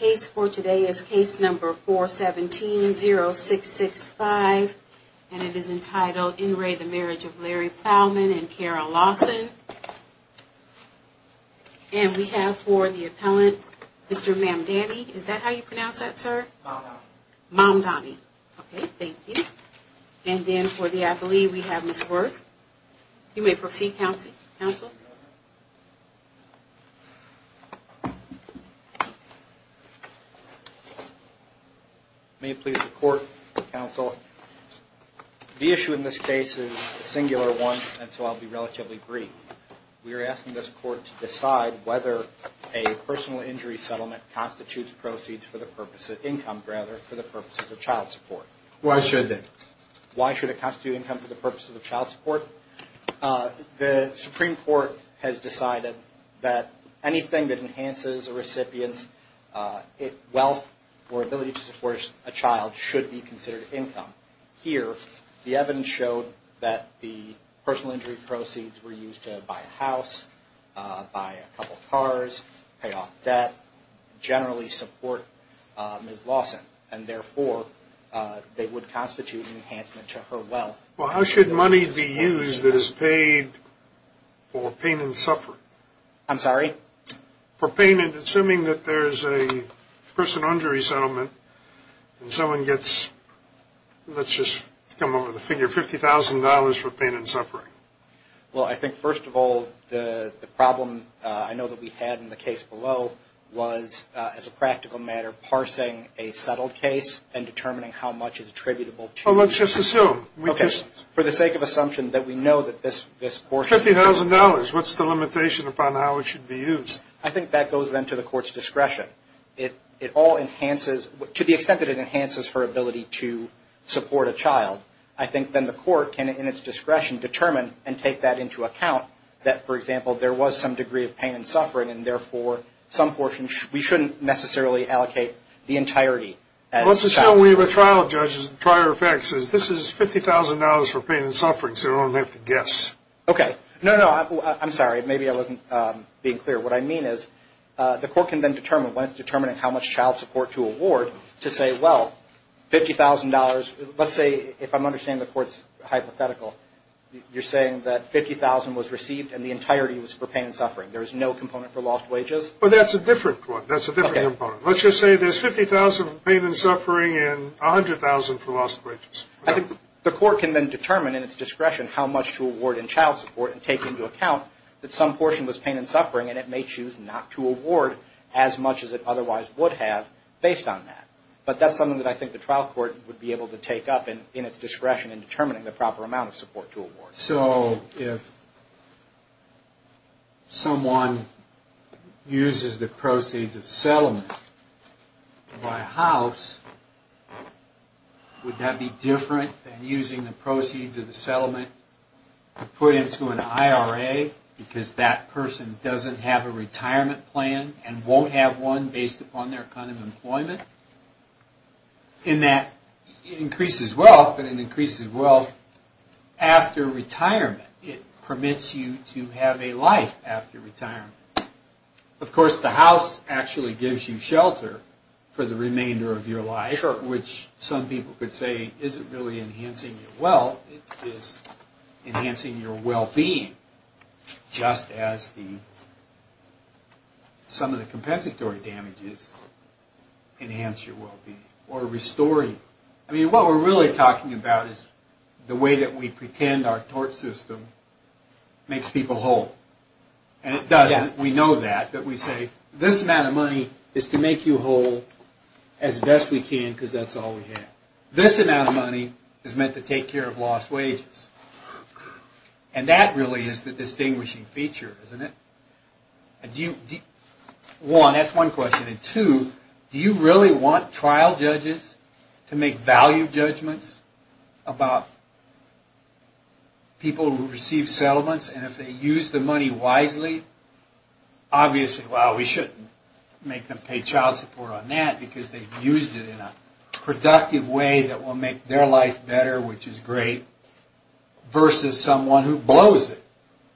Case for today is case number 417-0665, and it is entitled In Re the Marriage of Larry Plowman and Carol Lawson. And we have for the appellant, Mr. Mamdani, is that how you pronounce that, sir? Mamdani. Mamdani. Okay, thank you. And then for the appellee, we have Ms. Worth. You may proceed, counsel. May it please the court, counsel, the issue in this case is a singular one, and so I'll be relatively brief. We are asking this court to decide whether a personal injury settlement constitutes proceeds for the purpose of income, rather, for the purpose of child support. Why should it? Why should it constitute income for the purpose of child support? The Supreme Court has decided that anything that enhances a recipient's wealth or ability to support a child should be considered income. Here, the evidence showed that the personal injury proceeds were used to buy a house, buy a couple cars, pay off debt, generally support Ms. Lawson. And therefore, they would constitute an enhancement to her wealth. Well, how should money be used that is paid for pain and suffering? I'm sorry? For pain and, assuming that there's a personal injury settlement and someone gets, let's just come up with a figure, $50,000 for pain and suffering. Well, I think, first of all, the problem I know that we had in the case below was, as a practical matter, parsing a settled case and determining how much is attributable to it. Well, let's just assume. Okay. For the sake of assumption that we know that this portion is... $50,000. What's the limitation upon how it should be used? I think that goes, then, to the court's discretion. It all enhances, to the extent that it enhances her ability to support a child. I think, then, the court can, in its discretion, determine and take that into account, that, for example, there was some degree of pain and suffering, and therefore, some portion, we shouldn't necessarily allocate the entirety as child support. Well, let's just show we have a trial judge. The trial judge says, this is $50,000 for pain and suffering, so we don't have to guess. Okay. No, no. I'm sorry. Maybe I wasn't being clear. What I mean is, the court can, then, determine, when it's determining how much child support to award, to say, well, $50,000, let's say, if I'm understanding the court's hypothetical, you're saying that $50,000 was received and the entirety was for pain and suffering. There is no component for lost wages? Well, that's a different quote. That's a different component. Let's just say there's $50,000 for pain and suffering and $100,000 for lost wages. I think the court can, then, determine, in its discretion, how much to award in child support and take into account that some portion was pain and suffering and it may choose not to award as much as it otherwise would have based on that. But that's something that I think the trial court would be able to take up in its discretion in determining the proper amount of support to award. So, if someone uses the proceeds of the settlement to buy a house, would that be different than using the proceeds of the settlement to put into an IRA because that person doesn't have a retirement plan and won't have one based upon their kind of employment? In that, it increases wealth, but it increases wealth after retirement. It permits you to have a life after retirement. Of course, the house actually gives you shelter for the remainder of your life, which some people could say isn't really enhancing your wealth. It is enhancing your well-being, just as some of the compensatory damages enhance your well-being or restore you. I mean, what we're really talking about is the way that we pretend our tort system makes people whole. And it doesn't. We know that. But we say, this amount of money is to make you whole as best we can because that's all we have. This amount of money is meant to take care of lost wages. And that really is the distinguishing feature, isn't it? One, that's one question. And two, do you really want trial judges to make value judgments about people who receive settlements and if they use the money wisely? Obviously, well, we shouldn't make them pay child support on that because they've used it in a productive way that will make their life better, which is great, versus someone who blows it.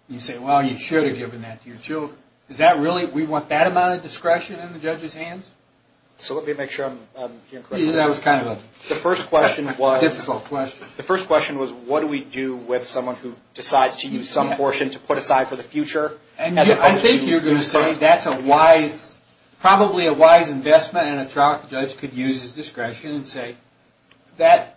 You say, well, you should have given that to your children. Is that really, we want that amount of discretion in the judge's hands? So let me make sure I'm hearing correctly. That was kind of a difficult question. The first question was, what do we do with someone who decides to use some portion to put aside for the future? I think you're going to say that's a wise, probably a wise investment, and a trial judge could use his discretion and say, that's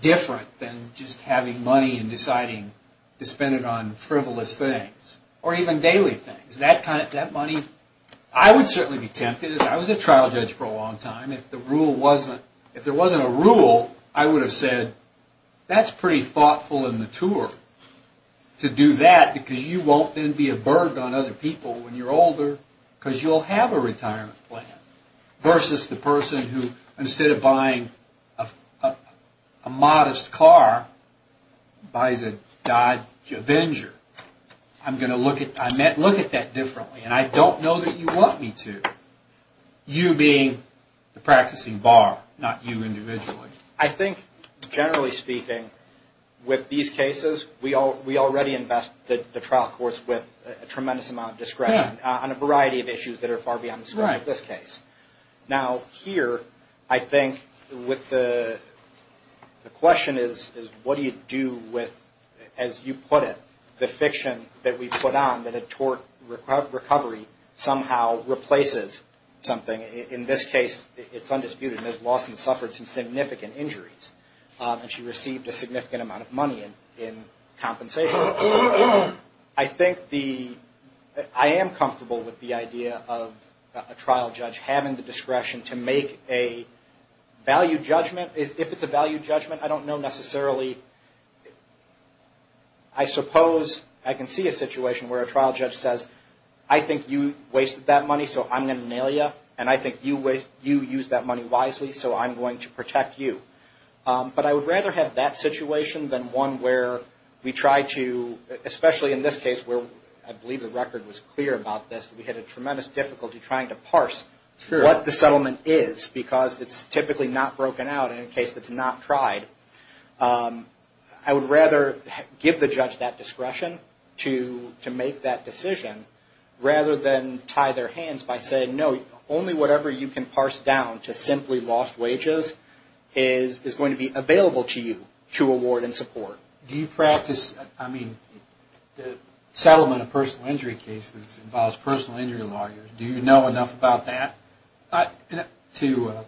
different than just having money and deciding to spend it on frivolous things or even daily things. That money, I would certainly be tempted. I was a trial judge for a long time. If there wasn't a rule, I would have said, that's pretty thoughtful and mature to do that because you won't then be a burden on other people when you're older because you'll have a retirement plan, versus the person who, instead of buying a modest car, buys a Dodge Avenger. I'm going to look at that differently, and I don't know that you want me to. You being the practicing bar, not you individually. I think, generally speaking, with these cases, we already invest the trial courts with a tremendous amount of discretion on a variety of issues that are far beyond the scope of this case. Now, here, I think the question is, what do you do with, as you put it, the fiction that we put on that a tort recovery somehow replaces something. In this case, it's undisputed. Ms. Lawson suffered some significant injuries, and she received a significant amount of money in compensation. I think the, I am comfortable with the idea of a trial judge having the discretion to make a value judgment. If it's a value judgment, I don't know necessarily, I suppose I can see a situation where a trial judge says, I think you wasted that money, so I'm going to nail you. And I think you used that money wisely, so I'm going to protect you. But I would rather have that situation than one where we try to, especially in this case, where I believe the record was clear about this. We had a tremendous difficulty trying to parse what the settlement is, because it's typically not broken out in a case that's not tried. I would rather give the judge that discretion to make that decision, rather than tie their hands by saying, no, only whatever you can parse down to simply lost wages is going to be available to you to award in support. Do you practice, I mean, the settlement of personal injury cases involves personal injury lawyers. Do you know enough about that to, let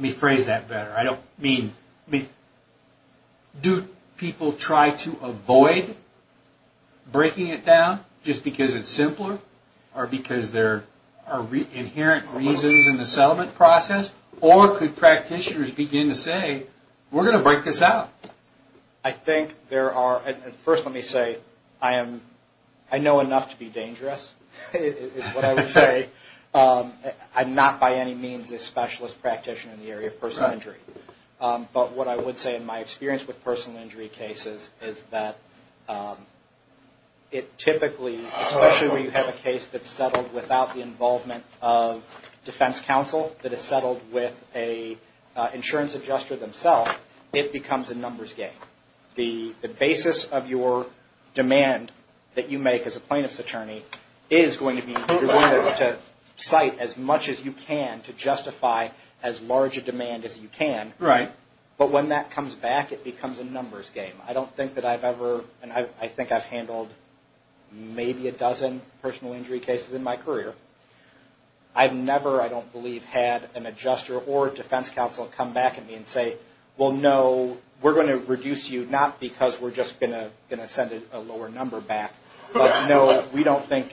me phrase that better. I don't mean, do people try to avoid breaking it down just because it's simpler, or because there are inherent reasons in the settlement process, or could practitioners begin to say, we're going to break this out. I think there are, and first let me say, I know enough to be dangerous, is what I would say. I'm not by any means a specialist practitioner in the area of personal injury. But what I would say in my experience with personal injury cases is that it typically, especially when you have a case that's settled without the involvement of defense counsel, that is settled with an insurance adjuster themselves, it becomes a numbers game. The basis of your demand that you make as a plaintiff's attorney is going to be, you're going to cite as much as you can to justify as large a demand as you can. But when that comes back, it becomes a numbers game. I don't think that I've ever, and I think I've handled maybe a dozen personal injury cases in my career. I've never, I don't believe, had an adjuster or defense counsel come back at me and say, well, no, we're going to reduce you, not because we're just going to send a lower number back, but no, we don't think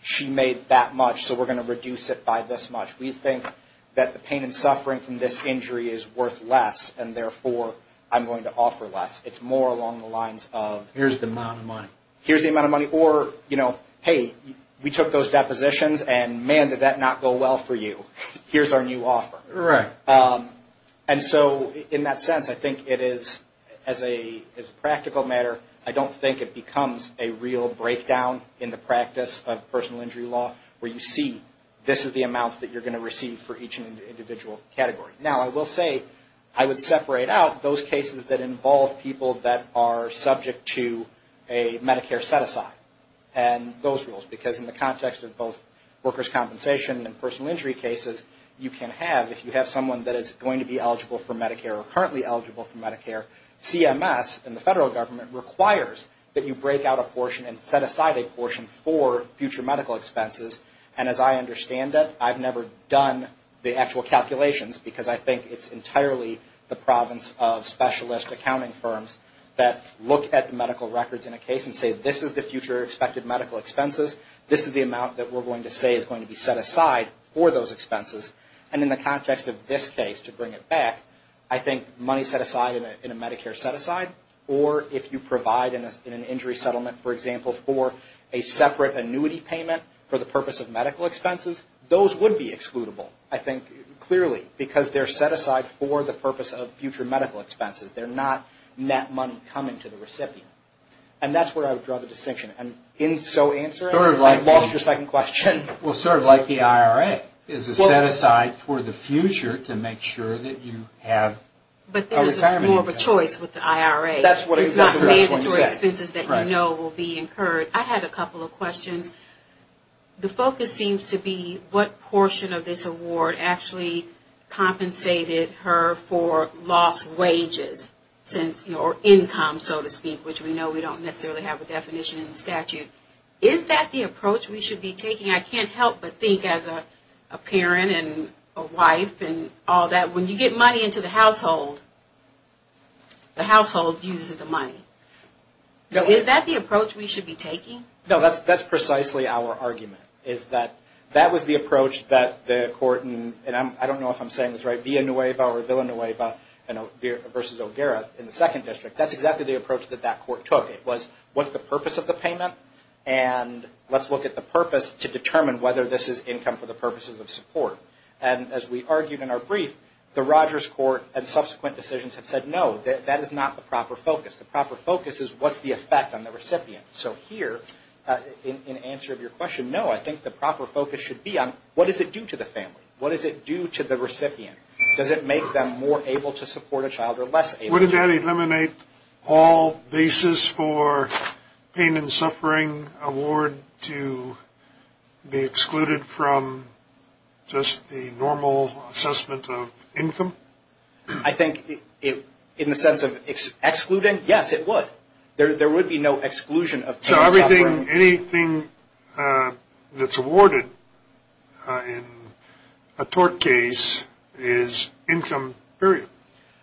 she made that much, so we're going to reduce it by this much. We think that the pain and suffering from this injury is worth less, and therefore, I'm going to offer less. It's more along the lines of... Here's the amount of money. Here's the amount of money. Or, you know, hey, we took those depositions, and man, did that not go well for you. Here's our new offer. Right. And so in that sense, I think it is, as a practical matter, I don't think it becomes a real breakdown in the practice of personal injury law, where you see this is the amount that you're going to receive for each individual category. Now, I will say I would separate out those cases that involve people that are subject to a Medicare set-aside and those rules, because in the context of both workers' compensation and personal injury cases, you can have, if you have someone that is going to be eligible for Medicare or currently eligible for Medicare, CMS and the federal government requires that you break out a portion and set aside a portion for future medical expenses. And as I understand it, I've never done the actual calculations, because I think it's entirely the province of specialist accounting firms that look at the medical records in a case and say this is the future expected medical expenses. This is the amount that we're going to say is going to be set aside for those expenses. And in the context of this case, to bring it back, I think money set aside in a Medicare set-aside, or if you provide in an injury settlement, for example, for a separate annuity payment for the purpose of medical expenses, those would be excludable, I think, clearly, because they're set aside for the purpose of future medical expenses. They're not net money coming to the recipient. And that's where I would draw the distinction. And in so answering, I lost your second question. Well, sort of like the IRA is a set-aside for the future to make sure that you have a retirement income. But there's more of a choice with the IRA. That's what I was going to say. It's not made into expenses that you know will be incurred. I had a couple of questions. The focus seems to be what portion of this award actually compensated her for lost wages, or income, so to speak, is that the approach we should be taking? I can't help but think as a parent and a wife and all that, when you get money into the household, the household uses the money. So is that the approach we should be taking? No, that's precisely our argument, is that that was the approach that the court, and I don't know if I'm saying this right, Villanueva versus O'Gara in the Second District, that's exactly the approach that that court took. It was what's the purpose of the payment, and let's look at the purpose to determine whether this is income for the purposes of support. And as we argued in our brief, the Rogers Court and subsequent decisions have said no, that is not the proper focus. The proper focus is what's the effect on the recipient. So here, in answer of your question, no, I think the proper focus should be on what does it do to the family? What does it do to the recipient? Does it make them more able to support a child or less able to support a child? Wouldn't that eliminate all basis for pain and suffering award to be excluded from just the normal assessment of income? I think in the sense of excluding, yes, it would. There would be no exclusion of pain and suffering. So anything that's awarded in a tort case is income, period?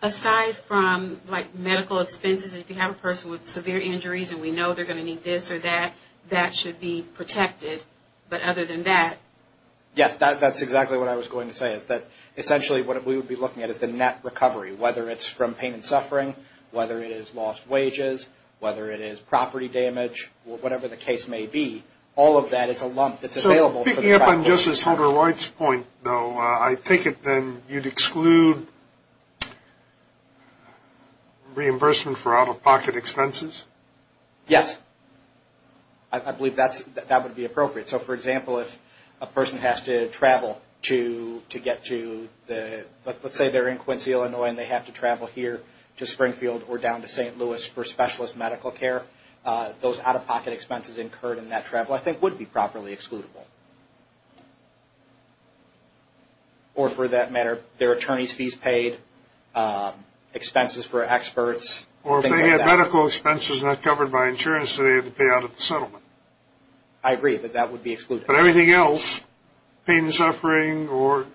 Aside from, like, medical expenses, if you have a person with severe injuries and we know they're going to need this or that, that should be protected. But other than that? Yes, that's exactly what I was going to say, is that essentially what we would be looking at is the net recovery, whether it's from pain and suffering, whether it is lost wages, whether it is property damage, or whatever the case may be. All of that is a lump that's available. Picking up on Justice Holder-White's point, though, I think then you'd exclude reimbursement for out-of-pocket expenses? Yes. I believe that would be appropriate. So, for example, if a person has to travel to get to, let's say they're in Quincy, Illinois, and they have to travel here to Springfield or down to St. Louis for specialist medical care, those out-of-pocket expenses incurred in that travel I think would be properly excludable. Or for that matter, their attorney's fees paid, expenses for experts, things like that. Or if they have medical expenses not covered by insurance, so they have to pay out of the settlement. I agree that that would be excluded. But everything else, pain and suffering, or,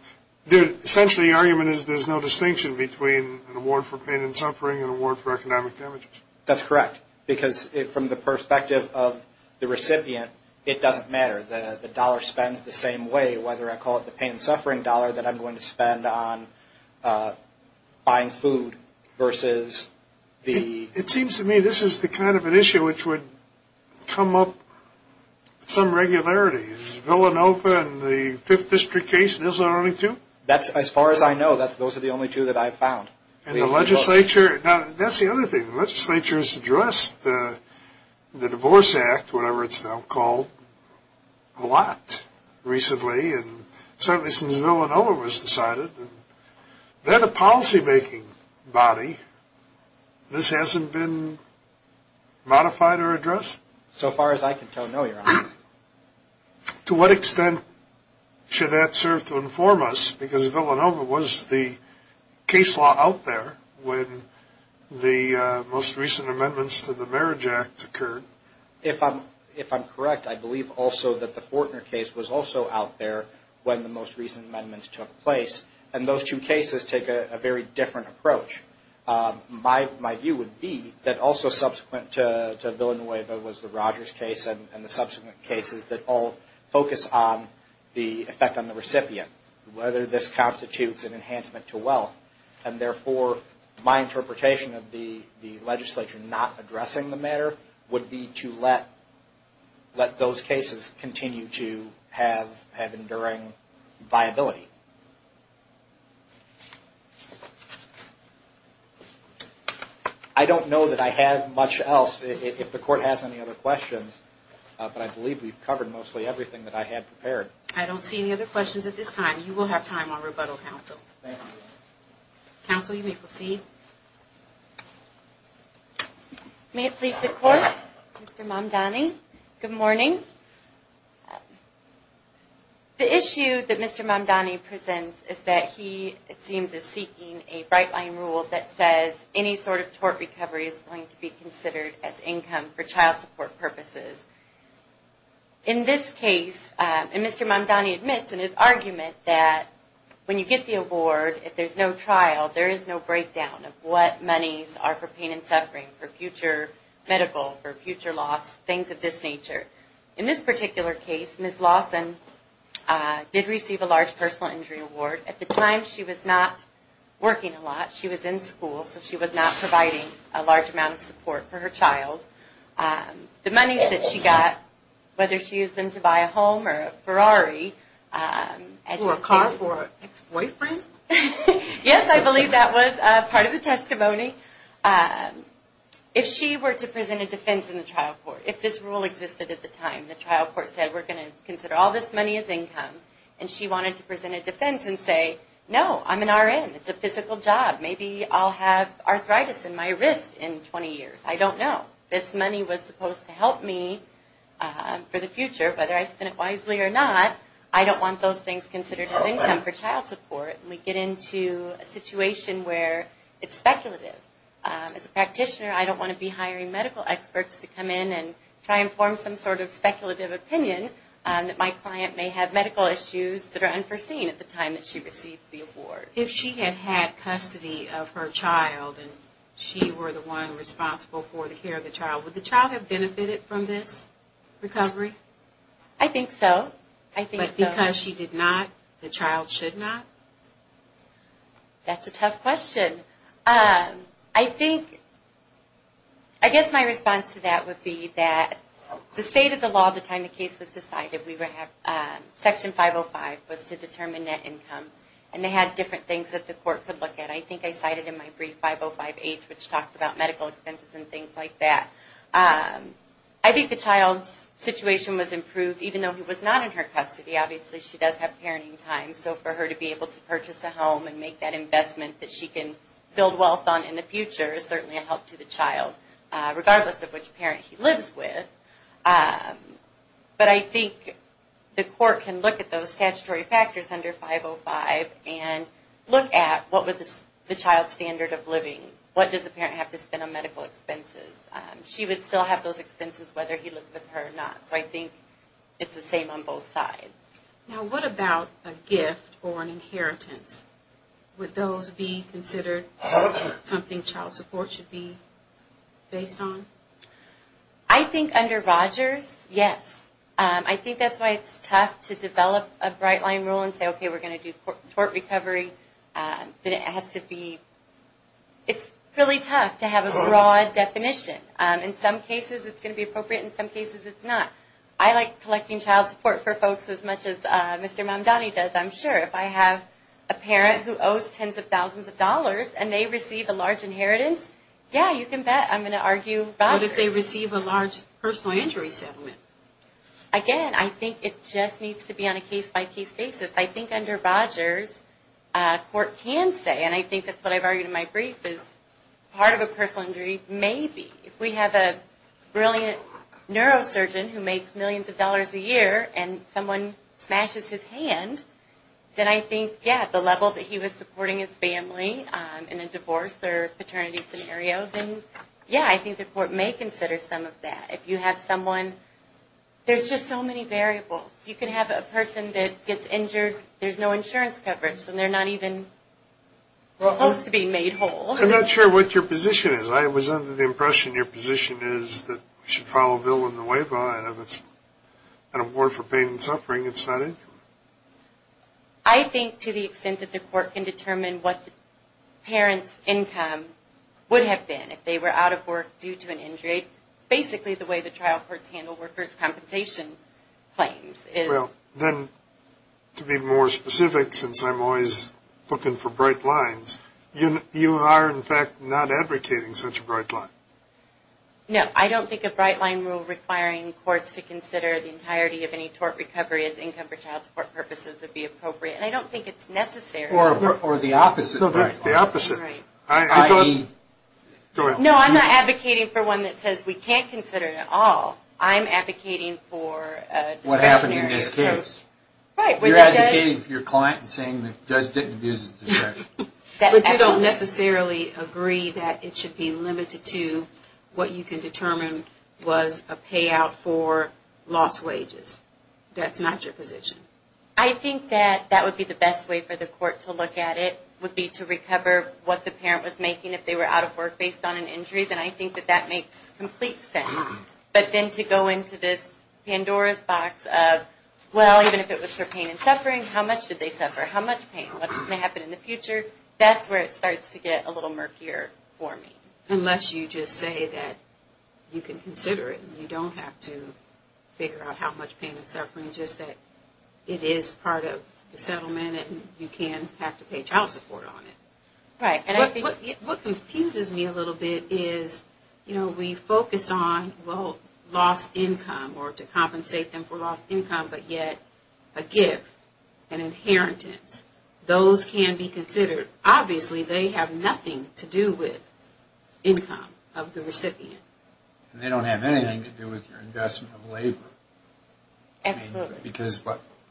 essentially the argument is there's no distinction between an award for pain and suffering and an award for economic damages. That's correct. Because from the perspective of the recipient, it doesn't matter. The dollar spends the same way, whether I call it the pain and suffering dollar that I'm going to spend on buying food versus the... It seems to me this is the kind of an issue which would come up some regularity. Is Villanova and the Fifth District case those are the only two? As far as I know, those are the only two that I've found. And the legislature, now that's the other thing. The legislature has addressed the Divorce Act, whatever it's now called, a lot recently, and certainly since Villanova was decided. They're the policymaking body. This hasn't been modified or addressed? To what extent should that serve to inform us? Because Villanova was the case law out there when the most recent amendments to the Marriage Act occurred. If I'm correct, I believe also that the Fortner case was also out there when the most recent amendments took place. And those two cases take a very different approach. My view would be that also subsequent to Villanova was the Rogers case and the subsequent cases that all focus on the effect on the recipient, whether this constitutes an enhancement to wealth. And therefore, my interpretation of the legislature not addressing the matter would be to let those cases continue to have enduring viability. I don't know that I have much else. If the Court has any other questions, but I believe we've covered mostly everything that I had prepared. I don't see any other questions at this time. You will have time on rebuttal, Counsel. Counsel, you may proceed. May it please the Court, Mr. Mamdani. Good morning. The issue that Mr. Mamdani presents is that he, it seems, is seeking a bright-line rule that says any sort of tort recovery is going to be considered as income for child support purposes. In this case, and Mr. Mamdani admits in his argument that when you get the award, if there's no trial, there is no breakdown of what monies are for pain and suffering, for future medical, for future loss, things of this nature. In this particular case, Ms. Lawson did receive a large personal injury award. At the time, she was not working a lot. She was in school, so she was not providing a large amount of support for her child. The monies that she got, whether she used them to buy a home or a Ferrari. Or a car for her ex-boyfriend? Yes, I believe that was part of the testimony. If she were to present a defense in the trial court, if this rule existed at the time, the trial court said, we're going to consider all this money as income. And she wanted to present a defense and say, no, I'm an RN. It's a physical job. Maybe I'll have arthritis in my wrist in 20 years. I don't know. This money was supposed to help me for the future, whether I spend it wisely or not. I don't want those things considered as income for child support. And we get into a situation where it's speculative. As a practitioner, I don't want to be hiring medical experts to come in and try and form some sort of speculative opinion that my client may have medical issues that are unforeseen at the time that she receives the award. If she had had custody of her child and she were the one responsible for the care of the child, would the child have benefited from this recovery? I think so. But because she did not, the child should not? That's a tough question. I guess my response to that would be that the state of the law at the time the case was decided, Section 505 was to determine net income. And they had different things that the court could look at. I think I cited in my brief 505H, which talked about medical expenses and things like that. I think the child's situation was improved, even though he was not in her custody. Obviously, she does have parenting time. So for her to be able to purchase a home and make that investment that she can build wealth on in the future is certainly a help to the child, regardless of which parent he lives with. But I think the court can look at those statutory factors under 505 and look at what was the child's standard of living. What does the parent have to spend on medical expenses? She would still have those expenses, whether he lived with her or not. So I think it's the same on both sides. Now, what about a gift or an inheritance? Would those be considered something child support should be based on? I think under Rogers, yes. I think that's why it's tough to develop a bright-line rule and say, okay, we're going to do tort recovery. It's really tough to have a broad definition. In some cases, it's going to be appropriate. In some cases, it's not. I like collecting child support for folks as much as Mr. Mamdani does, I'm sure. If I have a parent who owes tens of thousands of dollars, and they receive a large inheritance, yeah, you can bet I'm going to argue Rogers. What if they receive a large personal injury settlement? Again, I think it just needs to be on a case-by-case basis. I think under Rogers, court can say, and I think that's what I've argued in my brief, is part of a personal injury may be. If we have a brilliant neurosurgeon who makes millions of dollars a year, and someone smashes his hand, then I think, yeah, the level that he was supporting his family in a divorce or paternity scenario, then, yeah, I think the court may consider some of that. If you have someone, there's just so many variables. You can have a person that gets injured, there's no insurance coverage, and they're not even supposed to be made whole. I'm not sure what your position is. I was under the impression your position is that you should file a bill in the way of an award for pain and suffering. It's not income. I think to the extent that the court can determine what the parent's income would have been if they were out of work due to an injury, it's basically the way the trial courts handle workers' compensation claims. Well, then, to be more specific, since I'm always looking for bright lines, you are, in fact, not advocating such a bright line. No, I don't think a bright line rule requiring courts to consider the entirety of any tort recovery as income for child support purposes would be appropriate. And I don't think it's necessary. Or the opposite. The opposite. No, I'm not advocating for one that says we can't consider it at all. I'm advocating for discretionary approach. What happened in this case? You're advocating for your client and saying the judge didn't abuse the discretion. But you don't necessarily agree that it should be limited to what you can determine was a payout for lost wages. That's not your position. I think that that would be the best way for the court to look at it would be to recover what the parent was making if they were out of work based on an injury. And I think that that makes complete sense. But then to go into this Pandora's box of, well, even if it was for pain and suffering, how much did they suffer? How much pain? What's going to happen in the future? That's where it starts to get a little murkier for me. Unless you just say that you can consider it and you don't have to figure out how much pain and suffering. Just that it is part of the settlement and you can have to pay child support on it. Right. What confuses me a little bit is, you know, we focus on, well, lost income or to compensate them for lost income. But yet a gift, an inheritance, those can be considered. Obviously they have nothing to do with income of the recipient. They don't have anything to do with your investment of labor. Absolutely. Because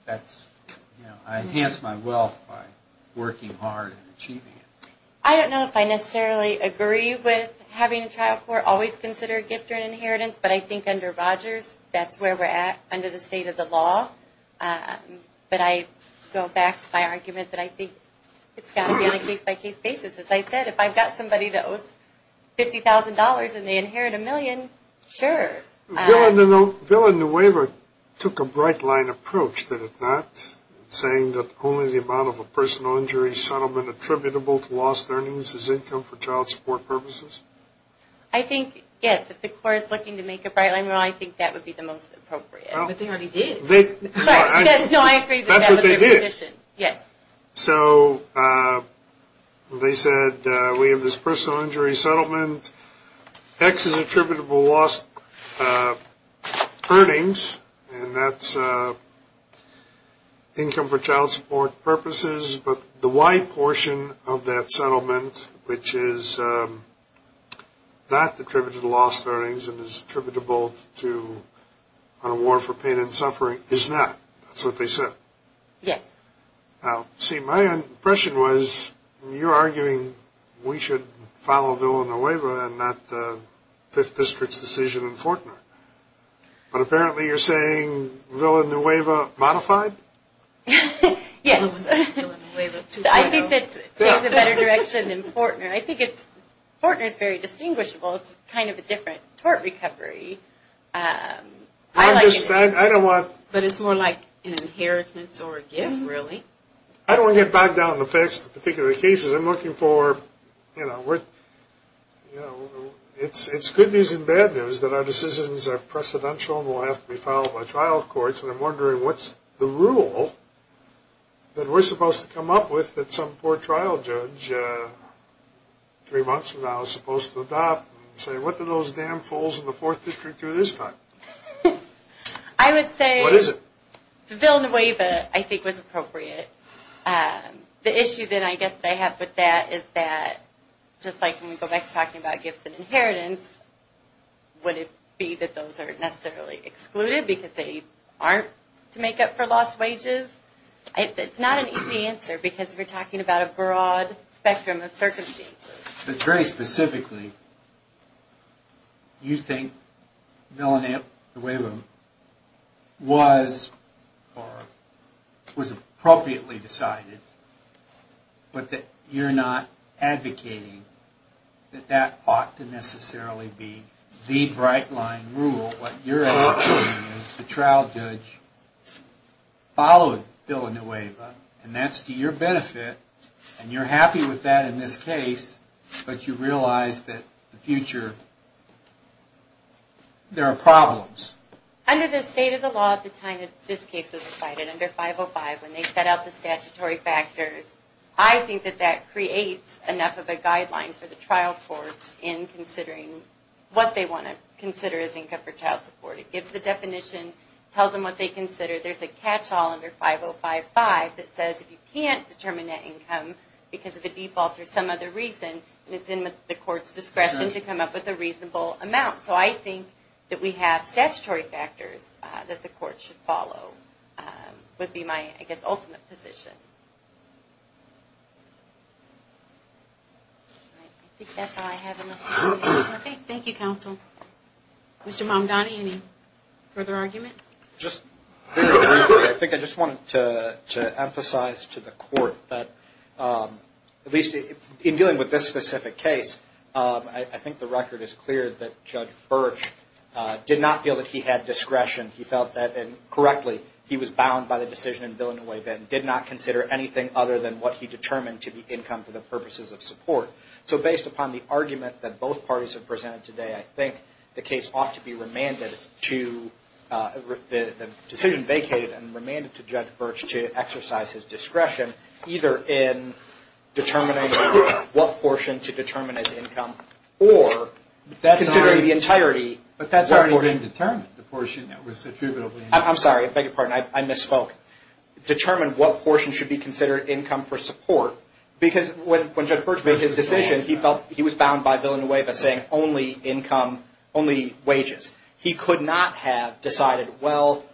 that's, you know, I enhance my wealth by working hard and achieving it. I don't know if I necessarily agree with having a child court always consider a gift or an inheritance, but I think under Rogers that's where we're at under the state of the law. But I go back to my argument that I think it's got to be on a case-by-case basis. As I said, if I've got somebody that owes $50,000 and they inherit a million, sure. The bill and the waiver took a bright line approach, did it not? Saying that only the amount of a personal injury settlement attributable to lost earnings is income for child support purposes? I think, yes, if the court is looking to make a bright line, well, I think that would be the most appropriate. But they already did. No, I agree. That's what they did. Yes. So they said we have this personal injury settlement. X is attributable to lost earnings, and that's income for child support purposes. But the Y portion of that settlement, which is not attributable to lost earnings and is attributable to an award for pain and suffering, is not. That's what they said. Yes. Now, see, my impression was you're arguing we should follow VILA and NOVAVA and not the 5th District's decision in Fortnard. But apparently you're saying VILA and NOVAVA modified? Yes. I think that takes a better direction than Fortnard. I think Fortnard is very distinguishable. It's kind of a different tort recovery. I understand. But it's more like an inheritance or a gift, really. I don't want to get bogged down in the facts of particular cases. I'm looking for, you know, it's good news and bad news that our decisions are precedential and will have to be filed by trial courts, and I'm wondering what's the rule that we're supposed to come up with that some poor trial judge three months from now is supposed to adopt and say what do those damn fools in the 4th District do this time? I would say VILA and NOVAVA I think was appropriate. The issue that I guess I have with that is that, just like when we go back to talking about gifts and inheritance, would it be that those are necessarily excluded because they aren't to make up for lost wages? It's not an easy answer because we're talking about a broad spectrum of circumstances. But very specifically, you think VILA and NOVAVA was appropriately decided, but that you're not advocating that that ought to necessarily be the bright line rule. What you're advocating is the trial judge followed VILA and NOVAVA, and that's to your benefit, and you're happy with that in this case, but you realize that in the future there are problems. Under the state of the law at the time that this case was decided, under 505, when they set out the statutory factors, I think that that creates enough of a guideline for the trial court in considering what they want to consider as income for child support. It gives the definition, tells them what they consider. There's a catch-all under 505.5 that says if you can't determine that income because of a default or some other reason, it's in the court's discretion to come up with a reasonable amount. So I think that we have statutory factors that the court should follow would be my, I guess, ultimate position. Thank you, counsel. Mr. Mamdani, any further argument? I think I just wanted to emphasize to the court that, at least in dealing with this specific case, I think the record is clear that Judge Birch did not feel that he had discretion. He felt that, and correctly, he was bound by the decision in Villanueva and did not consider anything other than what he determined to be income for the purposes of support. So based upon the argument that both parties have presented today, I think the case ought to be remanded to the decision vacated and remanded to Judge Birch to exercise his discretion, either in determining what portion to determine as income or considering the entirety. But that's already been determined, the portion that was attributably income. I'm sorry, I beg your pardon. I misspoke. Determine what portion should be considered income for support because when Judge Birch made his decision, he was bound by Villanueva saying only income, only wages. He could not have decided, well,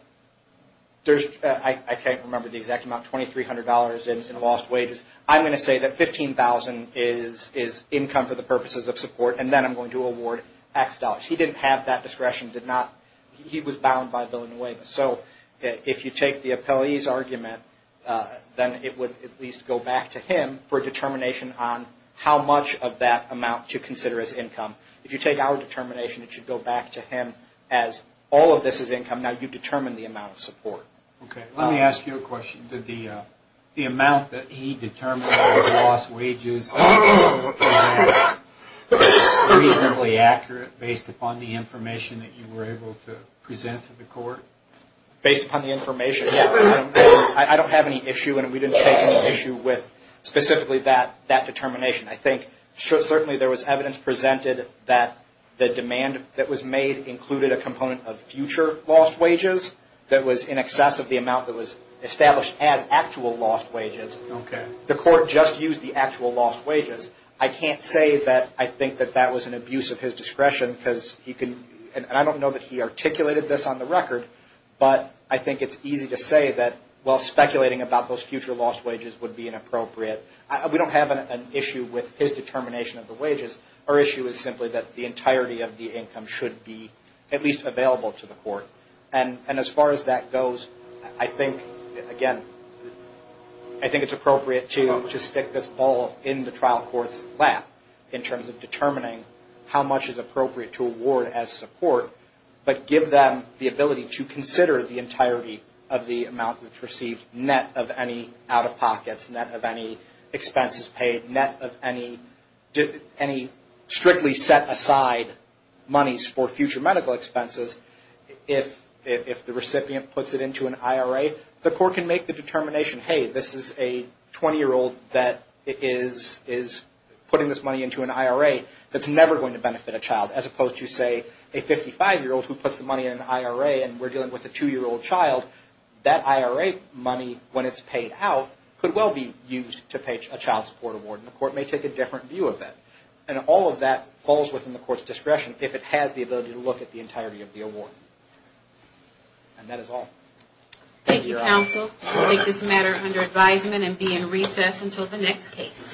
I can't remember the exact amount, $2,300 in lost wages. I'm going to say that $15,000 is income for the purposes of support and then I'm going to award X dollars. He didn't have that discretion. He was bound by Villanueva. So if you take the appellee's argument, then it would at least go back to him for determination on how much of that amount to consider as income. If you take our determination, it should go back to him as all of this is income. Now you've determined the amount of support. Okay. Let me ask you a question. Did the amount that he determined of lost wages present reasonably accurate based upon the information that you were able to present to the court? Based upon the information, yes. I don't have any issue and we didn't take any issue with specifically that determination. I think certainly there was evidence presented that the demand that was made included a component of future lost wages that was in excess of the amount that was established as actual lost wages. Okay. The court just used the actual lost wages. I can't say that I think that that was an abuse of his discretion because he can, and I don't know that he articulated this on the record, but I think it's easy to say that, well, speculating about those future lost wages would be inappropriate. We don't have an issue with his determination of the wages. Our issue is simply that the entirety of the income should be at least available to the court. And as far as that goes, I think, again, I think it's appropriate to stick this ball in the trial court's lap in terms of determining how much is appropriate to award as support, but give them the ability to consider the entirety of the amount that's received, net of any out-of-pockets, net of any expenses paid, net of any strictly set-aside monies for future medical expenses. If the recipient puts it into an IRA, the court can make the determination, hey, this is a 20-year-old that is putting this money into an IRA that's never going to benefit a child, as opposed to, say, a 55-year-old who puts the money in an IRA and we're dealing with a two-year-old child. That IRA money, when it's paid out, could well be used to pay a child support award, and the court may take a different view of that. And all of that falls within the court's discretion if it has the ability to look at the entirety of the award. And that is all. Thank you, counsel. We'll take this matter under advisement and be in recess until the next case.